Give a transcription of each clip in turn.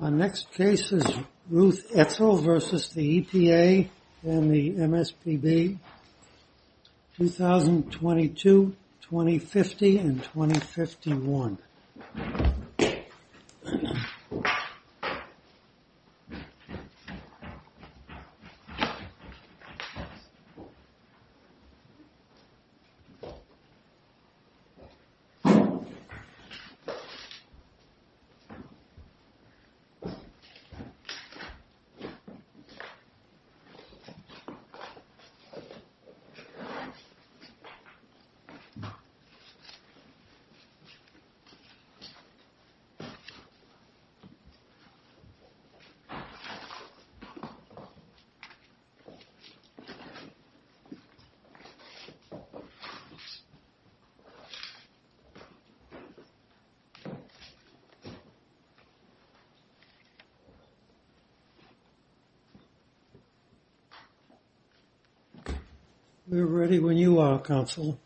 My next case is Ruth Etzel v. EPA and MSPB, 2022, 2050, and 2051. We are ready when you are, Counsel.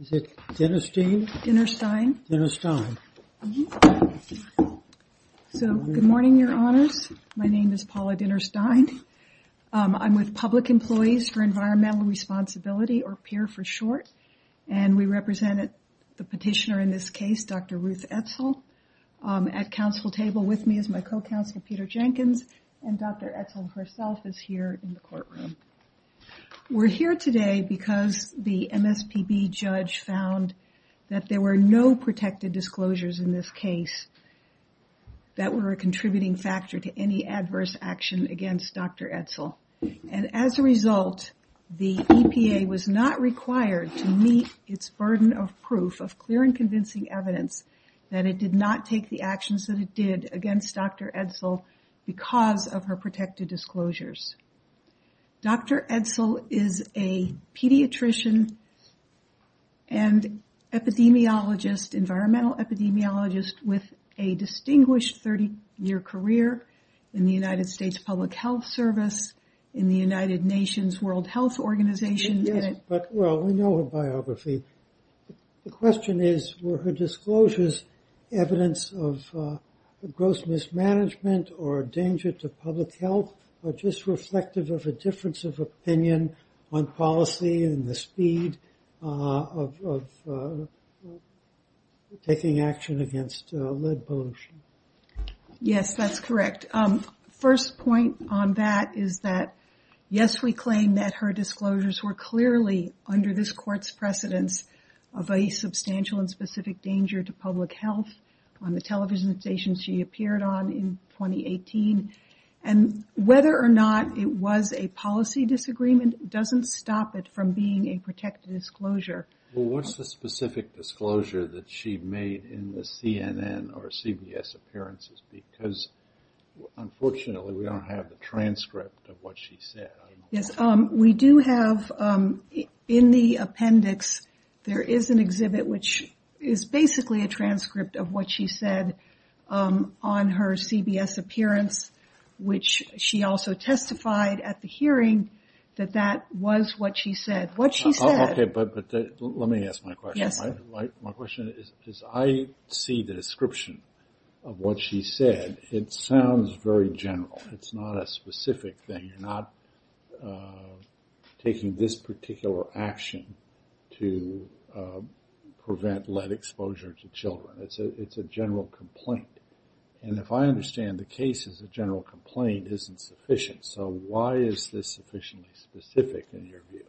Is it Dinerstein? Dinerstein. Mm-hmm. So, good morning, Your Honors. My name is Paula Dinerstein. I'm with Public Employees for Environmental Responsibility, or PEER for short, and we represent the petitioner in this case, Dr. Ruth Etzel. At counsel table with me is my co-counsel, Peter Jenkins, and Dr. Etzel herself is here in the courtroom. We're here today because the MSPB judge found that there were no protected disclosures in this case that were a contributing factor to any adverse action against Dr. Etzel. And as a result, the EPA was not required to meet its burden of proof of clear and convincing evidence that it did not take the actions that it did against Dr. Etzel because of her Dr. Etzel is a pediatrician and epidemiologist, environmental epidemiologist, with a distinguished 30-year career in the United States Public Health Service, in the United Nations World Health Organization. Yes, but, well, we know her biography. The question is, were her disclosures evidence of gross mismanagement or danger to public health, or just reflective of a difference of opinion on policy and the speed of taking action against lead pollution? Yes, that's correct. First point on that is that, yes, we claim that her disclosures were clearly under this court's precedence of a substantial and specific danger to public health on the television presentation she appeared on in 2018. And whether or not it was a policy disagreement doesn't stop it from being a protected disclosure. Well, what's the specific disclosure that she made in the CNN or CBS appearances? Because, unfortunately, we don't have the transcript of what she said. Yes, we do have, in the appendix, there is an exhibit which is basically a transcript of what she said on her CBS appearance, which she also testified at the hearing that that was what she said. What she said... Okay, but let me ask my question. My question is, I see the description of what she said. It sounds very general. It's not a specific thing. You're not taking this particular action to prevent lead exposure to children. It's a general complaint. And if I understand the case as a general complaint isn't sufficient, so why is this sufficiently specific in your view?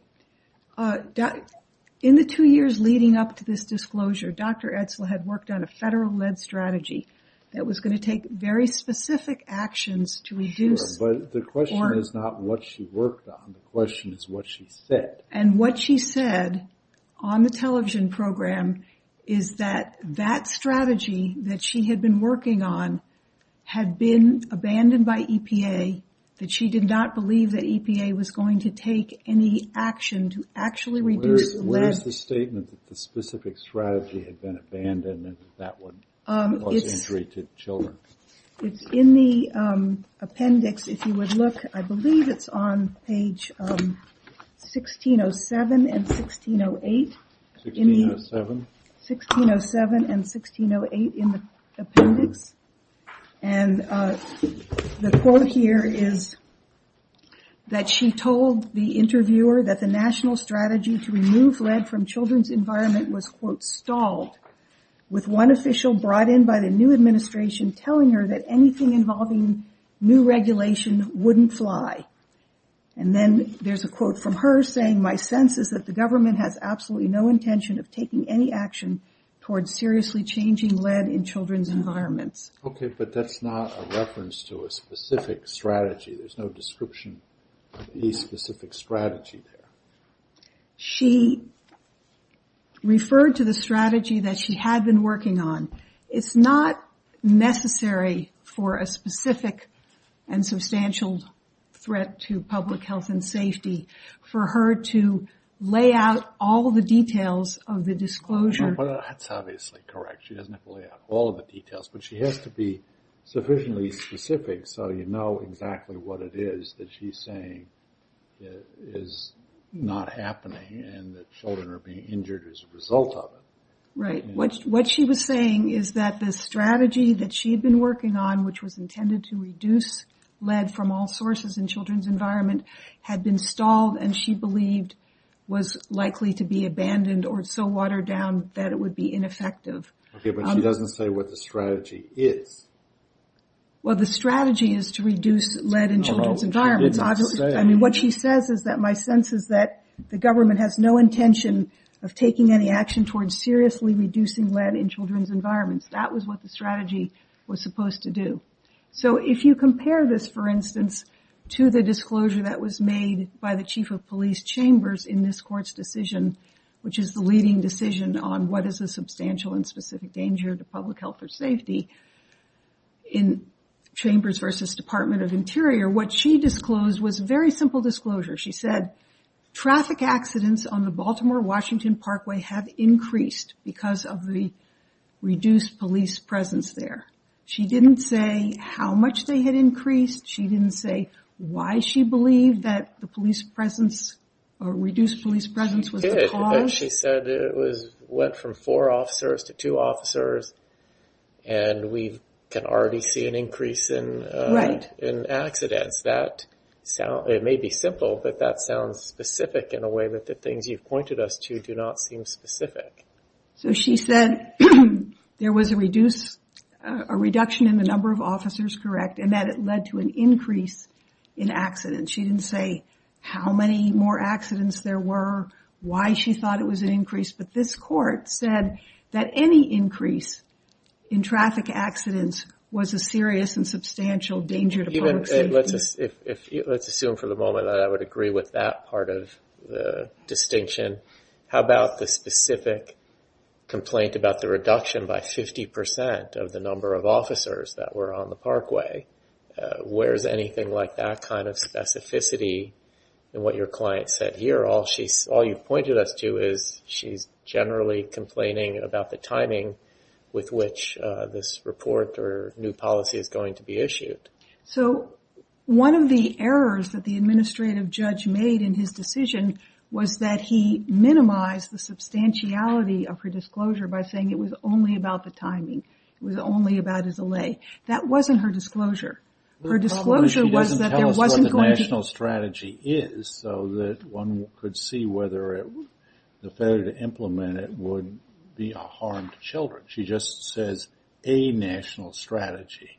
In the two years leading up to this disclosure, Dr. Edsel had worked on a federal lead strategy that was going to take very specific actions to reduce... But the question is not what she worked on. The question is what she said. And what she said on the television program is that that strategy that she had been working on had been abandoned by EPA, that she did not believe that EPA was going to take any action to actually reduce lead... Where is the statement that the specific strategy had been abandoned and that would cause injury to children? It's in the appendix. If you would look, I believe it's on page 1607 and 1608. 1607? 1607 and 1608 in the appendix. And the quote here is that she told the interviewer that the national strategy to remove lead from children's environment was, quote, stalled. With one official brought in by the new administration telling her that anything involving new regulation wouldn't fly. And then there's a quote from her saying, my sense is that the government has absolutely no intention of taking any action towards seriously changing lead in children's environments. Okay, but that's not a reference to a specific strategy. There's no description of any specific strategy there. She referred to the strategy that she had been working on. It's not necessary for a specific and substantial threat to public health and safety for her to lay out all the details of the disclosure. That's obviously correct. She doesn't have to lay out all of the details, but she has to be sufficiently specific so you know exactly what it is that she's saying is not happening and that children are being injured as a result of it. Right. What she was saying is that the strategy that she had been working on, which was intended to reduce lead from all sources in children's environment, had been stalled and she believed was likely to be abandoned or so watered down that it would be ineffective. Okay, but she doesn't say what the strategy is. Well, the strategy is to reduce lead in children's environments. What she says is that my sense is that the government has no intention of taking any action towards seriously reducing lead in children's environments. That was what the strategy was supposed to do. So if you compare this, for instance, to the disclosure that was made by the chief of police chambers in this court's decision, which is the leading decision on what is a substantial and specific danger to public health or safety in chambers versus Department of Interior, what she disclosed was very simple disclosure. She said traffic accidents on the Baltimore-Washington Parkway have increased because of the reduced police presence there. She didn't say how much they had increased. She didn't say why she believed that the police presence or reduced police presence was the cause. But she said it went from four officers to two officers and we can already see an increase in accidents. Right. It may be simple, but that sounds specific in a way that the things you've pointed us to do not seem specific. So she said there was a reduction in the number of officers, correct, and that it led to an increase in accidents. She didn't say how many more accidents there were, why she thought it was an increase, but this court said that any increase in traffic accidents was a serious and substantial danger to public safety. Let's assume for the moment that I would agree with that part of the distinction. How about the specific complaint about the reduction by 50% of the number of officers that were on the parkway? Where's anything like that kind of specificity in what your client said here? All you've pointed us to is she's generally complaining about the timing with which this report or new policy is going to be issued. So one of the errors that the administrative judge made in his decision was that he minimized the substantiality of her disclosure by saying it was only about the timing, it was only about his allay. That wasn't her disclosure. Her disclosure was that there wasn't going to... She doesn't tell us what the national strategy is so that one could see whether the failure to implement it would be a harm to children. She just says a national strategy,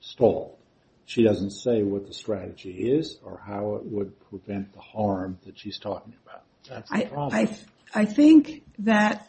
stall. She doesn't say what the strategy is or how it would prevent the harm that she's talking about. I think that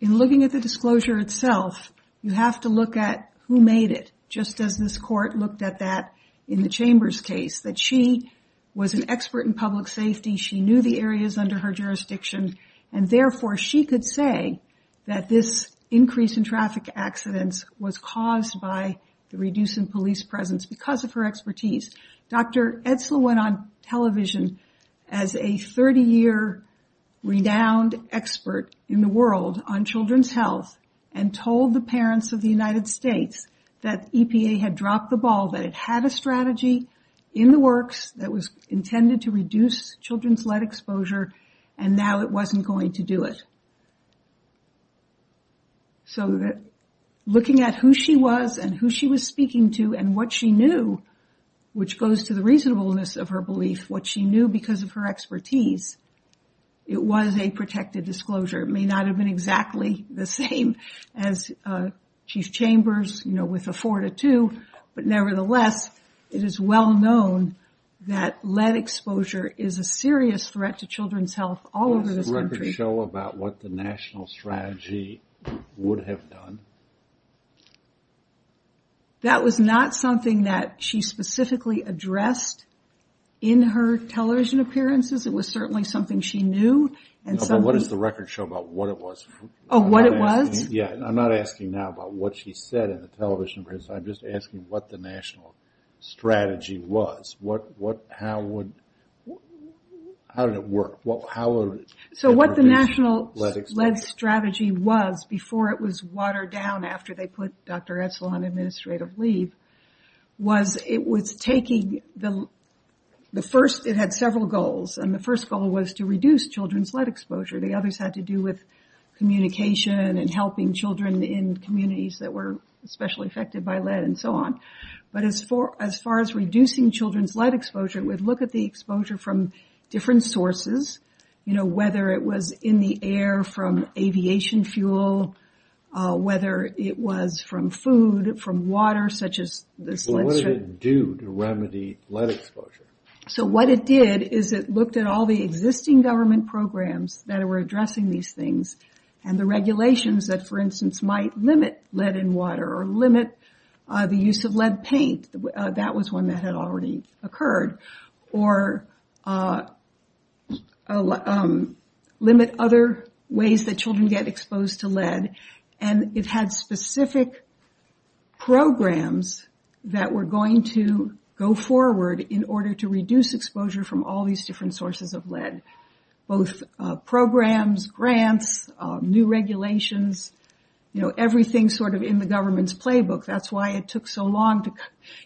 in looking at the disclosure itself, you have to look at who made it. Just as this court looked at that in the Chambers case, that she was an expert in public safety. She knew the areas under her jurisdiction and therefore she could say that this increase in traffic accidents was caused by the reducing police presence because of her expertise. Dr. Edsel went on television as a 30-year renowned expert in the world on children's health and told the parents of the United States that EPA had dropped the ball, that it had a strategy in the works that was intended to reduce children's lead exposure and now it wasn't going to do it. Looking at who she was and who she was speaking to and what she knew, which goes to the reasonableness of her belief, what she knew because of her expertise, it was a protected disclosure. It may not have been exactly the same as Chief Chambers with a four to two, but nevertheless it is well known that lead exposure is a serious threat to children's health all over this country. What does the record show about what the national strategy would have done? That was not something that she specifically addressed in her television appearances. It was certainly something she knew. What does the record show about what it was? What it was? I'm not asking now about what she said in the television, I'm just asking what the national strategy was. How did it work? What the national lead strategy was before it was watered down after they put Dr. Edsel on administrative leave, was it had several goals. The first goal was to reduce children's lead exposure. The others had to do with communication and helping children in communities that were especially affected by lead and so on. As far as reducing children's lead exposure, we'd look at the exposure from different sources, whether it was in the air from aviation fuel, whether it was from food, from water, such as lead. What did it do to remedy lead exposure? What it did is it looked at all the existing government programs that were addressing these things, and the regulations that, for instance, might limit lead in water or limit the use of lead paint, that was one that had already occurred, or limit other ways that children get exposed to lead. It had specific programs that were going to go forward in order to reduce exposure from all these different sources of lead, both programs, grants, new regulations, everything sort of in the government's playbook. That's why it took so long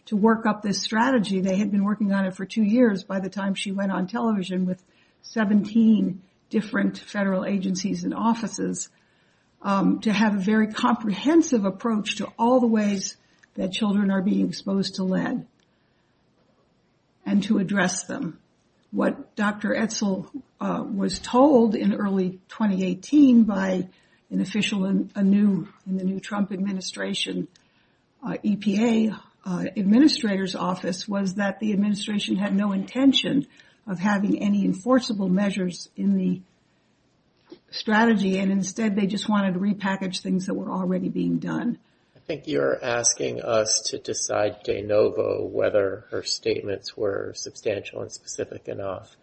to work up this strategy. They had been working on it for two years by the time she went on television with 17 different federal agencies and offices to have a very comprehensive approach to all the ways that children are being exposed to lead and to address them. What Dr. Edsel was told in early 2018 by an official in the new Trump administration, EPA Administrator's Office, was that the administration had no intention of having any enforceable measures in the strategy, and instead they just wanted to repackage things that were already being done. I think you're asking us to decide de novo whether her statements were substantial and specific enough.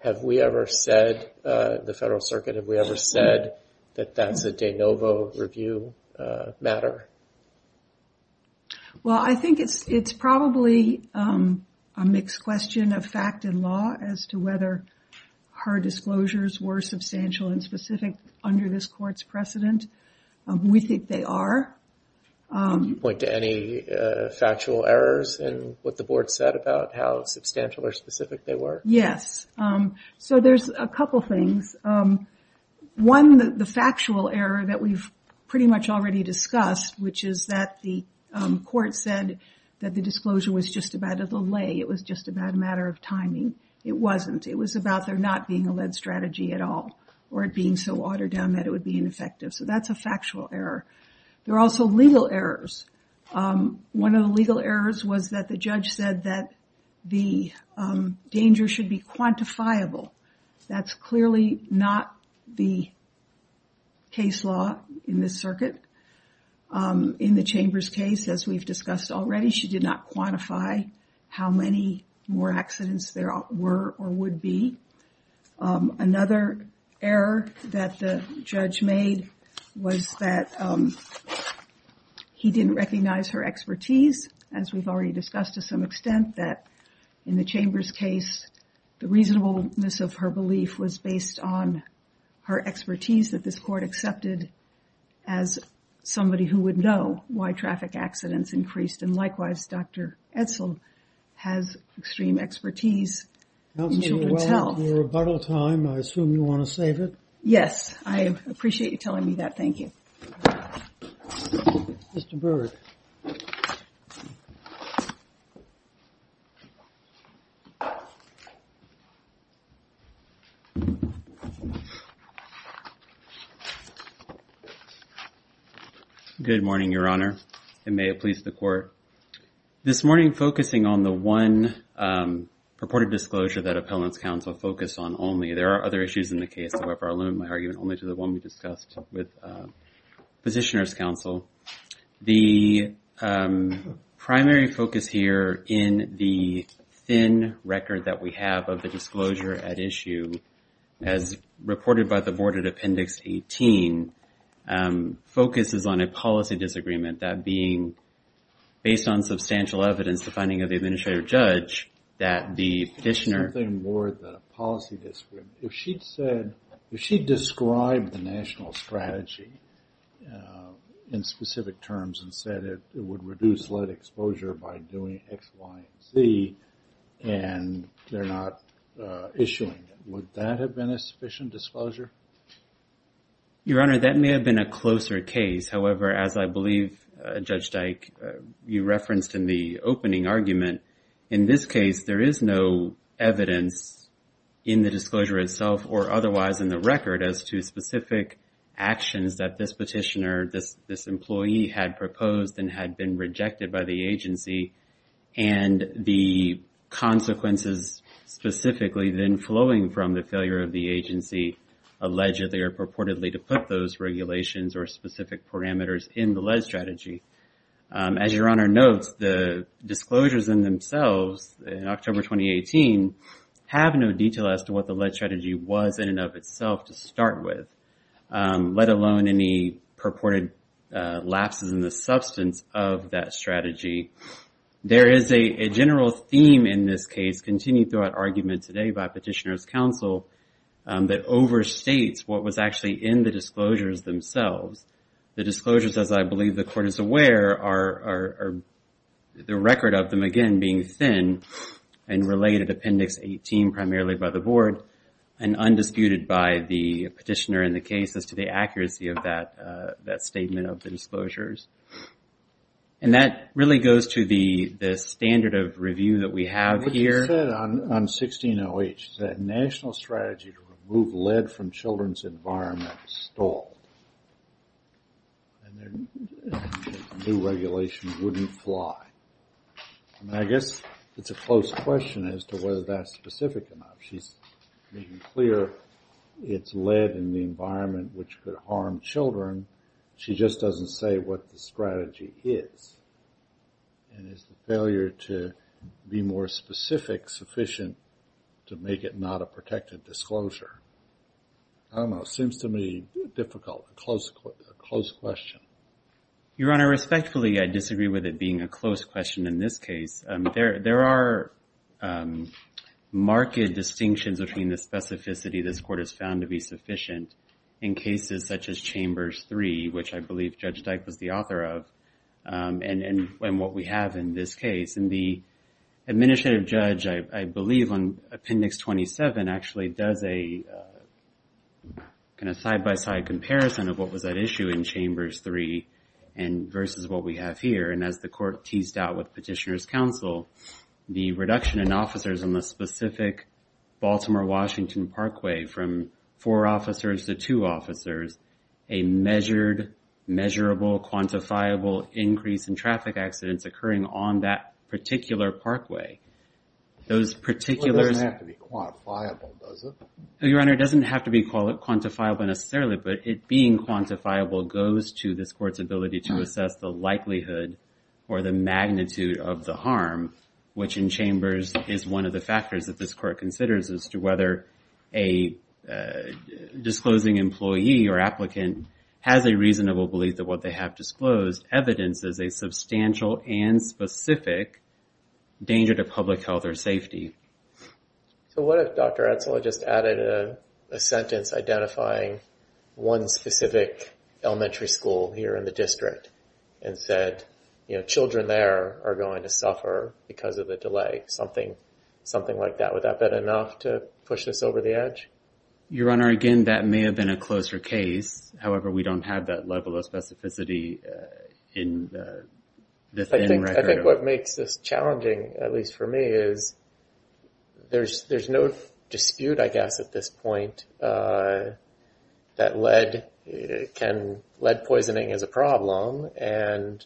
Have we ever said, the Federal Circuit, have we ever said that that's a de novo review matter? Well, I think it's probably a mixed question of fact and law as to whether her disclosures were substantial and specific under this court's precedent. We think they are. Can you point to any factual errors in what the board said about how substantial or specific they were? Yes. There's a couple things. One, the factual error that we've pretty much already discussed, which is that the court said that the disclosure was just about a delay. It was just about a matter of timing. It wasn't. It was about there not being a lead strategy at all or it being so watered down that it would be ineffective. That's a factual error. There are also legal errors. One of the legal errors was that the judge said that the danger should be quantifiable. That's clearly not the case law in this circuit. In the Chambers case, as we've discussed already, she did not quantify how many more accidents there were or would be. Another error that the judge made was that he didn't recognize her expertise, as we've already discussed to some extent, that in the Chambers case the reasonableness of her belief was based on her expertise that this court accepted as somebody who would know why traffic accidents increased. And likewise, Dr. Edsel has extreme expertise in children's health. Counsel, you're well into your rebuttal time. I assume you want to save it? Yes. I appreciate you telling me that. Thank you. Mr. Berg. Good morning, Your Honor, and may it please the court. This morning, focusing on the one purported disclosure that Appellant's counsel focused on only, there are other issues in the case, so I'll limit my argument only to the one we discussed with Positioner's counsel. The primary focus here in the thin record that we have of the disclosure at issue, as reported by the Board at Appendix 18, focuses on a policy disagreement, that being based on substantial evidence, the finding of the Administrative Judge, that the Petitioner... Something more than a policy disagreement. If she described the national strategy in specific terms and said it would reduce lead exposure by doing X, Y, and Z and they're not issuing it, would that have been a sufficient disclosure? Your Honor, that may have been a closer case. However, as I believe, Judge Dyke, you referenced in the opening argument, in this case there is no evidence in the disclosure itself or otherwise in the record as to specific actions that this Petitioner, this employee, had proposed and had been rejected by the agency and the consequences specifically then flowing from the failure of the agency, allegedly or purportedly to put those regulations or specific parameters in the lead strategy. As Your Honor notes, the disclosures in themselves in October 2018 have no detail as to what the lead strategy was in and of itself to start with, let alone any purported lapses in the substance of that strategy. There is a general theme in this case, continued throughout argument today by Petitioner's Counsel, that overstates what was actually in the disclosures themselves. The disclosures, as I believe the Court is aware, are the record of them, again, being thin and related Appendix 18 primarily by the Board and undisputed by the Petitioner in the case as to the accuracy of that statement of the disclosures. And that really goes to the standard of review that we have here. You said on 16-08 that national strategy to remove lead from children's environment stalled and new regulations wouldn't fly. And I guess it's a close question as to whether that's specific enough. She's making clear it's lead in the environment which could harm children. She just doesn't say what the strategy is. And is the failure to be more specific sufficient to make it not a protected disclosure? I don't know. It seems to me difficult, a close question. Your Honor, respectfully, I disagree with it being a close question in this case. There are marked distinctions between the specificity this Court has found to be sufficient in cases such as Chambers 3, which I believe Judge Dyke was the author of, and what we have in this case. And the administrative judge, I believe, on Appendix 27 actually does a kind of side-by-side comparison of what was at issue in Chambers 3 versus what we have here. And as the Court teased out with Petitioner's counsel, the reduction in officers on the specific Baltimore-Washington Parkway from four officers to two officers, a measured, measurable, quantifiable increase in traffic accidents occurring on that particular parkway. Those particulars... It doesn't have to be quantifiable, does it? Your Honor, it doesn't have to be quantifiable necessarily, but it being quantifiable goes to this Court's ability to assess the likelihood or the magnitude of the harm, which in Chambers is one of the factors that this Court considers as to whether a disclosing employee or applicant has a reasonable belief that what they have disclosed evidences a substantial and specific danger to public health or safety. So what if Dr. Edsel had just added a sentence identifying one specific elementary school here in the district and said, you know, children there are going to suffer because of the delay, something like that. Would that have been enough to push this over the edge? Your Honor, again, that may have been a closer case. However, we don't have that level of specificity in the record. I think what makes this challenging, at least for me, is there's no dispute, I guess, at this point that lead poisoning is a problem. And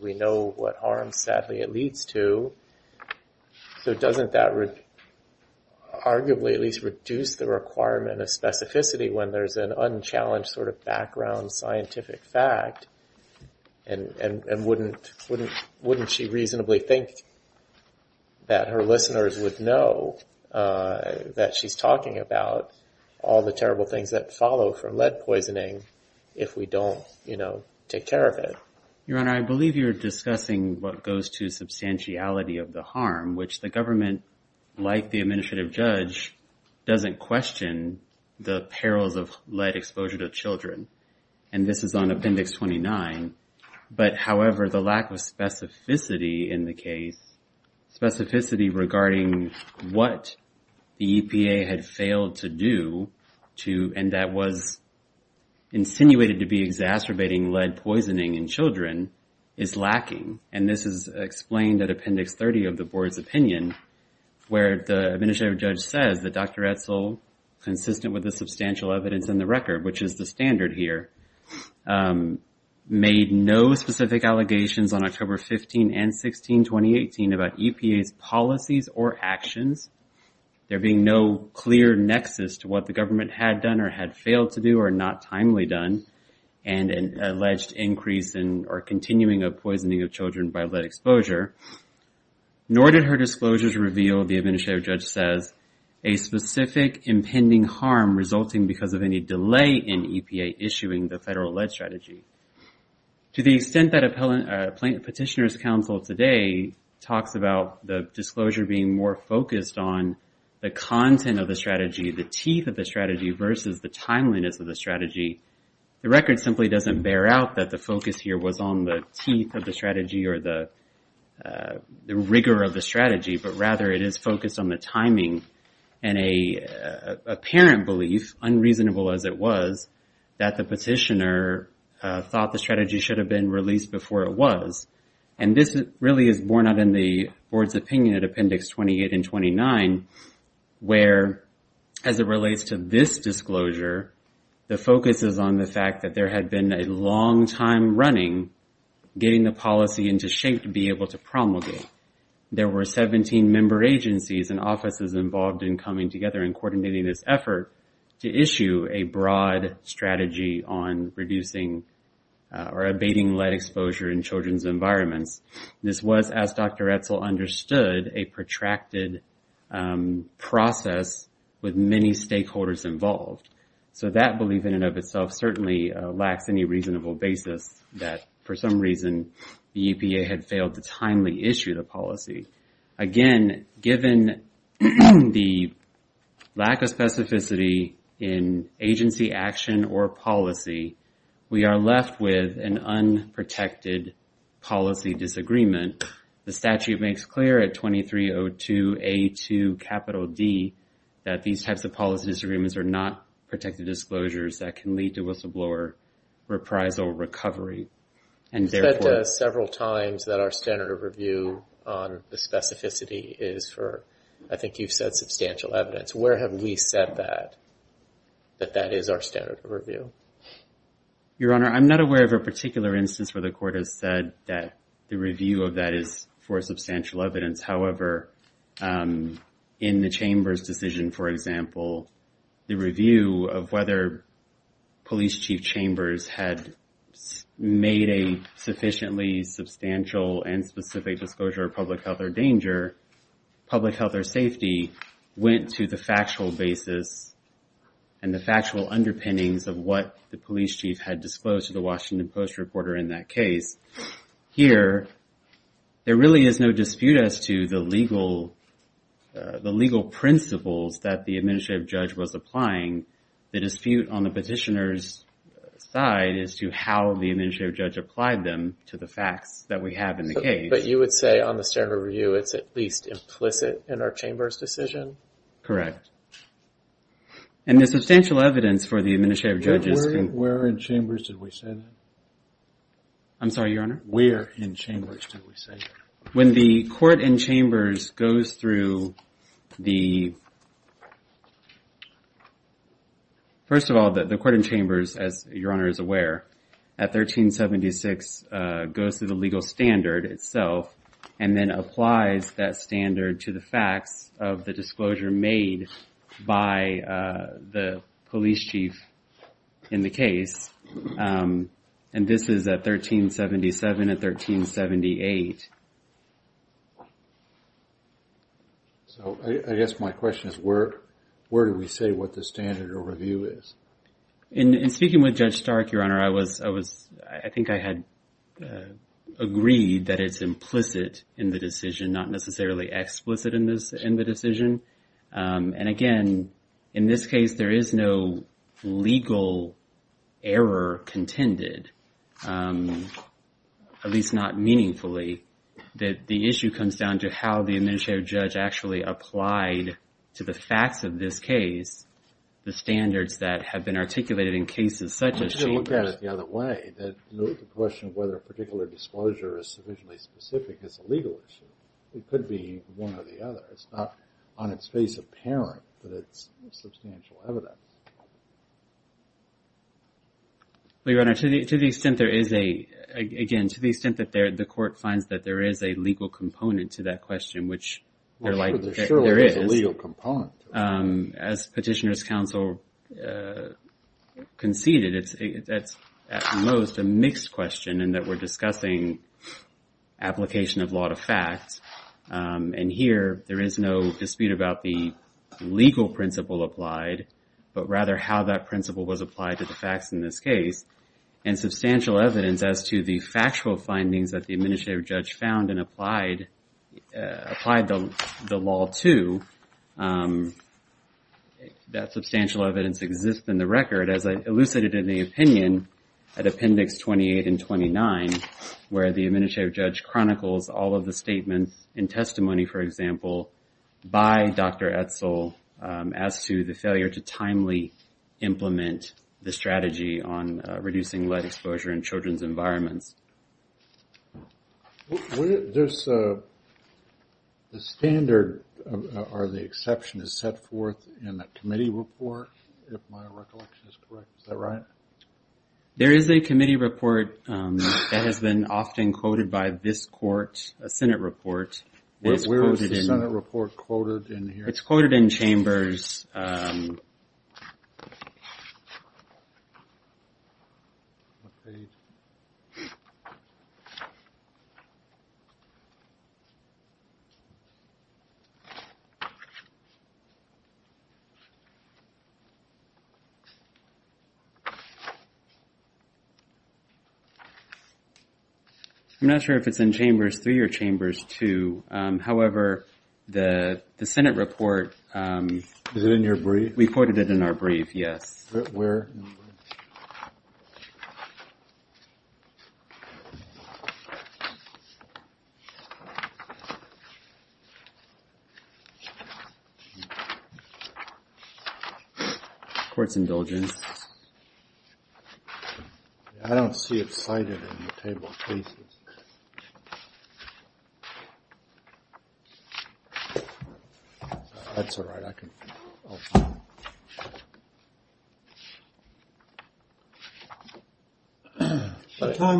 we know what harm, sadly, it leads to. So doesn't that arguably at least reduce the requirement of specificity when there's an unchallenged sort of background scientific fact? And wouldn't she reasonably think that her listeners would know that she's talking about all the terrible things that follow from lead poisoning if we don't, you know, take care of it? Your Honor, I believe you're discussing what goes to substantiality of the harm, which the government, like the administrative judge, doesn't question the perils of lead exposure to children. And this is on Appendix 29. But however, the lack of specificity in the case, specificity regarding what the EPA had failed to do to, and that was insinuated to be exacerbating lead poisoning in children, is lacking. And this is explained at Appendix 30 of the Board's opinion, where the administrative judge says that Dr. Edsel, consistent with the substantial evidence in the record, which is the standard here, made no specific allegations on October 15 and 16, 2018, about EPA's policies or actions. There being no clear nexus to what the government had done or had failed to do or not timely done, and an alleged increase in or continuing of poisoning of children by lead exposure. Nor did her disclosures reveal, the administrative judge says, a specific impending harm resulting because of any delay in EPA issuing the federal lead strategy. To the extent that Petitioner's Counsel today talks about the disclosure being more focused on the content of the strategy, the teeth of the strategy, versus the timeliness of the strategy, the record simply doesn't bear out that the focus here was on the teeth of the strategy or the rigor of the strategy, but rather it is focused on the timing and a apparent belief, unreasonable as it was, that the petitioner thought the strategy should have been released before it was. And this really is borne out in the Board's opinion at Appendix 28 and 29, where, as it relates to this disclosure, the focus is on the fact that there had been a long time running getting the policy into shape to be able to promulgate. There were 17 member agencies and offices involved in coming together and coordinating this effort to issue a broad strategy on reducing or abating lead exposure in children's environments. This was, as Dr. Edsel understood, a protracted process with many stakeholders involved. So that belief in and of itself certainly lacks any reasonable basis that, for some reason, the EPA had failed to timely issue the policy. Again, given the lack of specificity in agency action or policy, we are left with an unprotected policy decision. The statute makes clear at 2302A2D that these types of policy disagreements are not protected disclosures that can lead to whistleblower reprisal recovery. You've said several times that our standard of review on the specificity is for, I think you've said, substantial evidence. Where have we said that, that that is our standard of review? Your Honor, I'm not aware of a particular instance where the court has said that the review of that is for substantial evidence. However, in the Chamber's decision, for example, the review of whether police chief chambers had made a sufficiently substantial and specific disclosure of public health or danger, public health or safety, went to the factual basis and the factual underpinnings of what the police chief had disclosed to the Washington Post reporter in that case. Here, there really is no dispute as to the legal principles that the administrative judge was applying. The dispute on the petitioner's side as to how the administrative judge applied them to the facts that we have in the case. But you would say on the standard of review it's at least implicit in our Chamber's decision? Correct. And the substantial evidence for the administrative judge is... Where in Chambers did we say that? I'm sorry, Your Honor? Where in Chambers did we say that? When the court in Chambers goes through the... First of all, the court in Chambers, as Your Honor is aware, at 1376 goes through the legal standard itself and then applies that standard to the facts of the disclosure made by the police chief in the case. And this is at 1377 and 1378. So I guess my question is where do we say what the standard of review is? In speaking with Judge Stark, Your Honor, I think I had agreed that it's implicit in the decision, not necessarily explicit in the decision. And again, in this case, there is no legal error contended, at least not meaningfully, that the issue comes down to how the administrative judge actually applied to the facts of this case the standards that have been articulated in cases such as Chambers. I want you to look at it the other way. The question of whether a particular disclosure is sufficiently specific is a legal issue. It could be one or the other. It's not on its face apparent, but it's substantial evidence. Well, Your Honor, to the extent there is a... Again, to the extent that the court finds that there is a legal component to that question, which they're like, there is. As Petitioner's Counsel conceded, it's at most a mixed question in that we're discussing application of law to facts. And here, there is no dispute about the legal principle applied, but rather how that principle was applied to the facts in this case. And substantial evidence as to the factual findings that the administrative judge found and applied the law to, that substantial evidence exists in the record as elucidated in the opinion at Appendix 28 and 29 where the administrative judge chronicles all of the statements in testimony, for example, by Dr. Etzel as to the failure to timely implement the strategy on reducing lead exposure in children's environments. The standard or the exception is set forth in the committee report, if my recollection is correct. Is that right? There is a committee report that has been often quoted by this court, a Senate report. Where is the Senate report quoted in here? It's quoted in Chambers... I'm not sure if it's in Chambers 3 or Chambers 2. However, the Senate report... Is it in your brief? We quoted it in our brief, yes. Where? Court's indulgence. I don't see it cited in your table.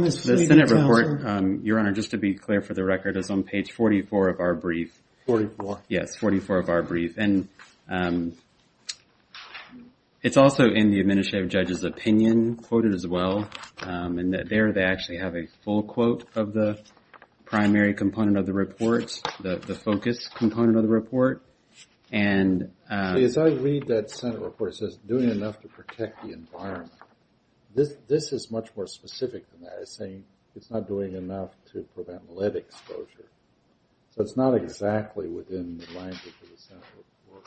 The Senate report, Your Honor, just to be clear for the record, is on page 44 of our brief. 44? Yes, 44 of our brief. It's also in the administrative judge's opinion quoted as well. There they actually have a full quote of the primary component of the report, the focus component of the report. As I read that Senate report, it says, doing enough to protect the environment. This is much more specific than that. It's saying it's not doing enough to prevent lead exposure. So it's not exactly within the language of the Senate report.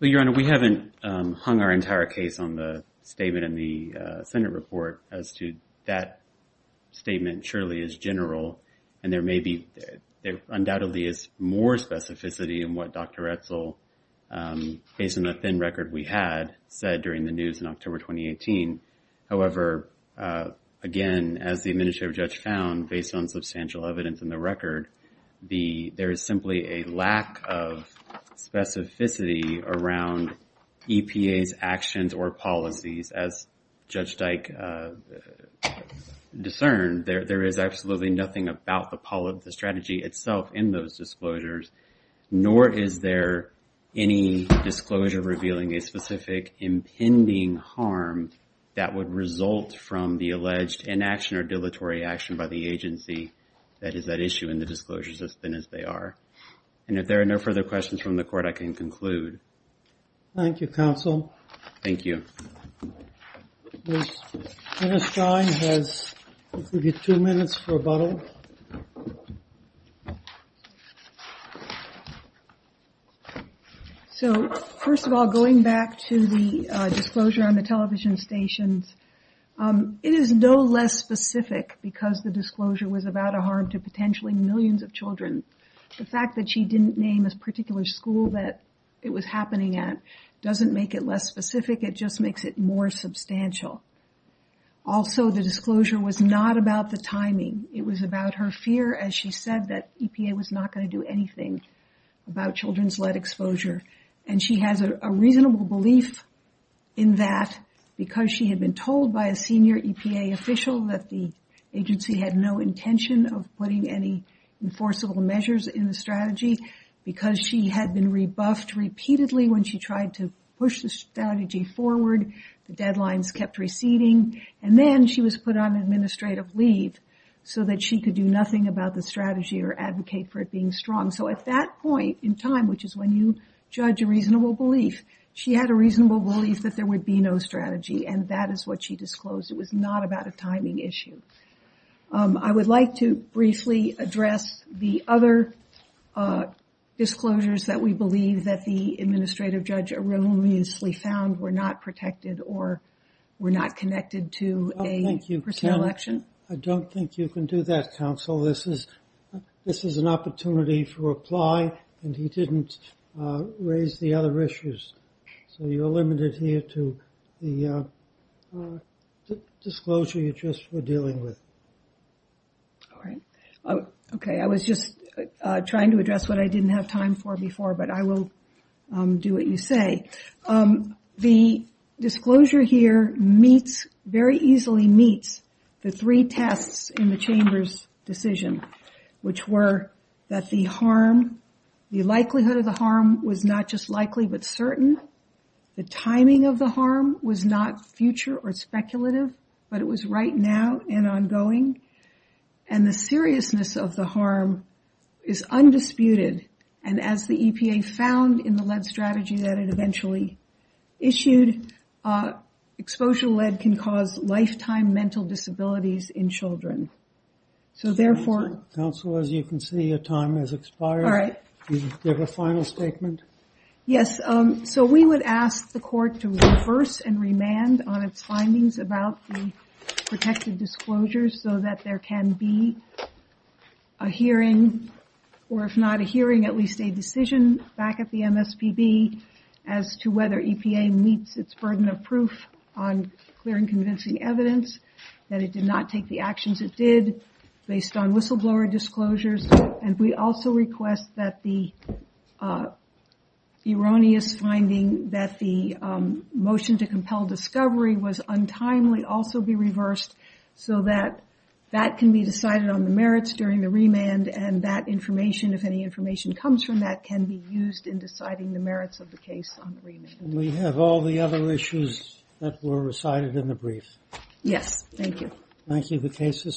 Your Honor, we haven't hung our entire case on the statement in the Senate report as to that statement surely is general and there may be... There undoubtedly is more specificity in what Dr. Retzel, based on the thin record we had, said during the news in October 2018. However, again, as the administrative judge found, based on substantial evidence in the record, there is simply a lack of specificity around EPA's actions or policies. As Judge Dyke discerned, there is absolutely nothing about the strategy itself in those disclosures, nor is there any disclosure revealing a specific impending harm that would result from the alleged inaction or dilatory action by the agency that is at issue in the disclosures as thin as they are. And if there are no further questions from the Court, I can conclude. Thank you, Counsel. Thank you. Ms. Stein has two minutes for rebuttal. So, first of all, going back to the disclosure on the television stations, it is no less specific because the disclosure was about a harm to potentially millions of children. The fact that she didn't name a particular school that it was happening at doesn't make it less specific, it just makes it more substantial. Also, the disclosure was not about the timing. It was about her fear, as she said, that EPA was not going to do anything about children's lead exposure. And she has a reasonable belief in that because she had been told by a senior EPA official that the agency had no intention of putting any enforceable measures in the strategy because she had been rebuffed repeatedly when she tried to push the strategy forward. The deadlines kept receding. And then she was put on administrative leave so that she could do nothing about the strategy or advocate for it being strong. So at that point in time, which is when you judge a reasonable belief, she had a reasonable belief that there would be no strategy and that is what she disclosed. It was not about a timing issue. I would like to briefly address the other disclosures that we believe that the administrative judge erroneously found were not protected or were not connected to a personal action. I don't think you can do that, counsel. This is an opportunity for reply and he didn't raise the other issues. So you're limited here to the disclosure you just were dealing with. Okay. I was just trying to address what I didn't have time for before but I will do what you say. Okay. The disclosure here meets, very easily meets, the three tests in the chamber's decision which were that the harm, the likelihood of the harm was not just likely but certain. The timing of the harm was not future or speculative but it was right now and ongoing. And the seriousness of the harm is undisputed and as the EPA found in the lead strategy that it eventually issued, exposure to lead can cause lifetime mental disabilities in children. Counsel, as you can see, your time has expired. Do you have a final statement? Yes, so we would ask the court to reverse and remand on its findings about the protected disclosures so that there can be a hearing, or if not a hearing, at least a decision back at the MSPB as to whether EPA meets its burden of proof on clear and convincing evidence that it did not take the actions it did based on whistleblower disclosures and we also request that the erroneous finding that the motion to compel discovery was untimely also be reversed so that that can be decided on the merits during the remand and that information, if any information comes from that, can be used in deciding the merits of the case on the remand. And we have all the other issues that were recited in the brief. Yes, thank you. Thank you. The case is submitted.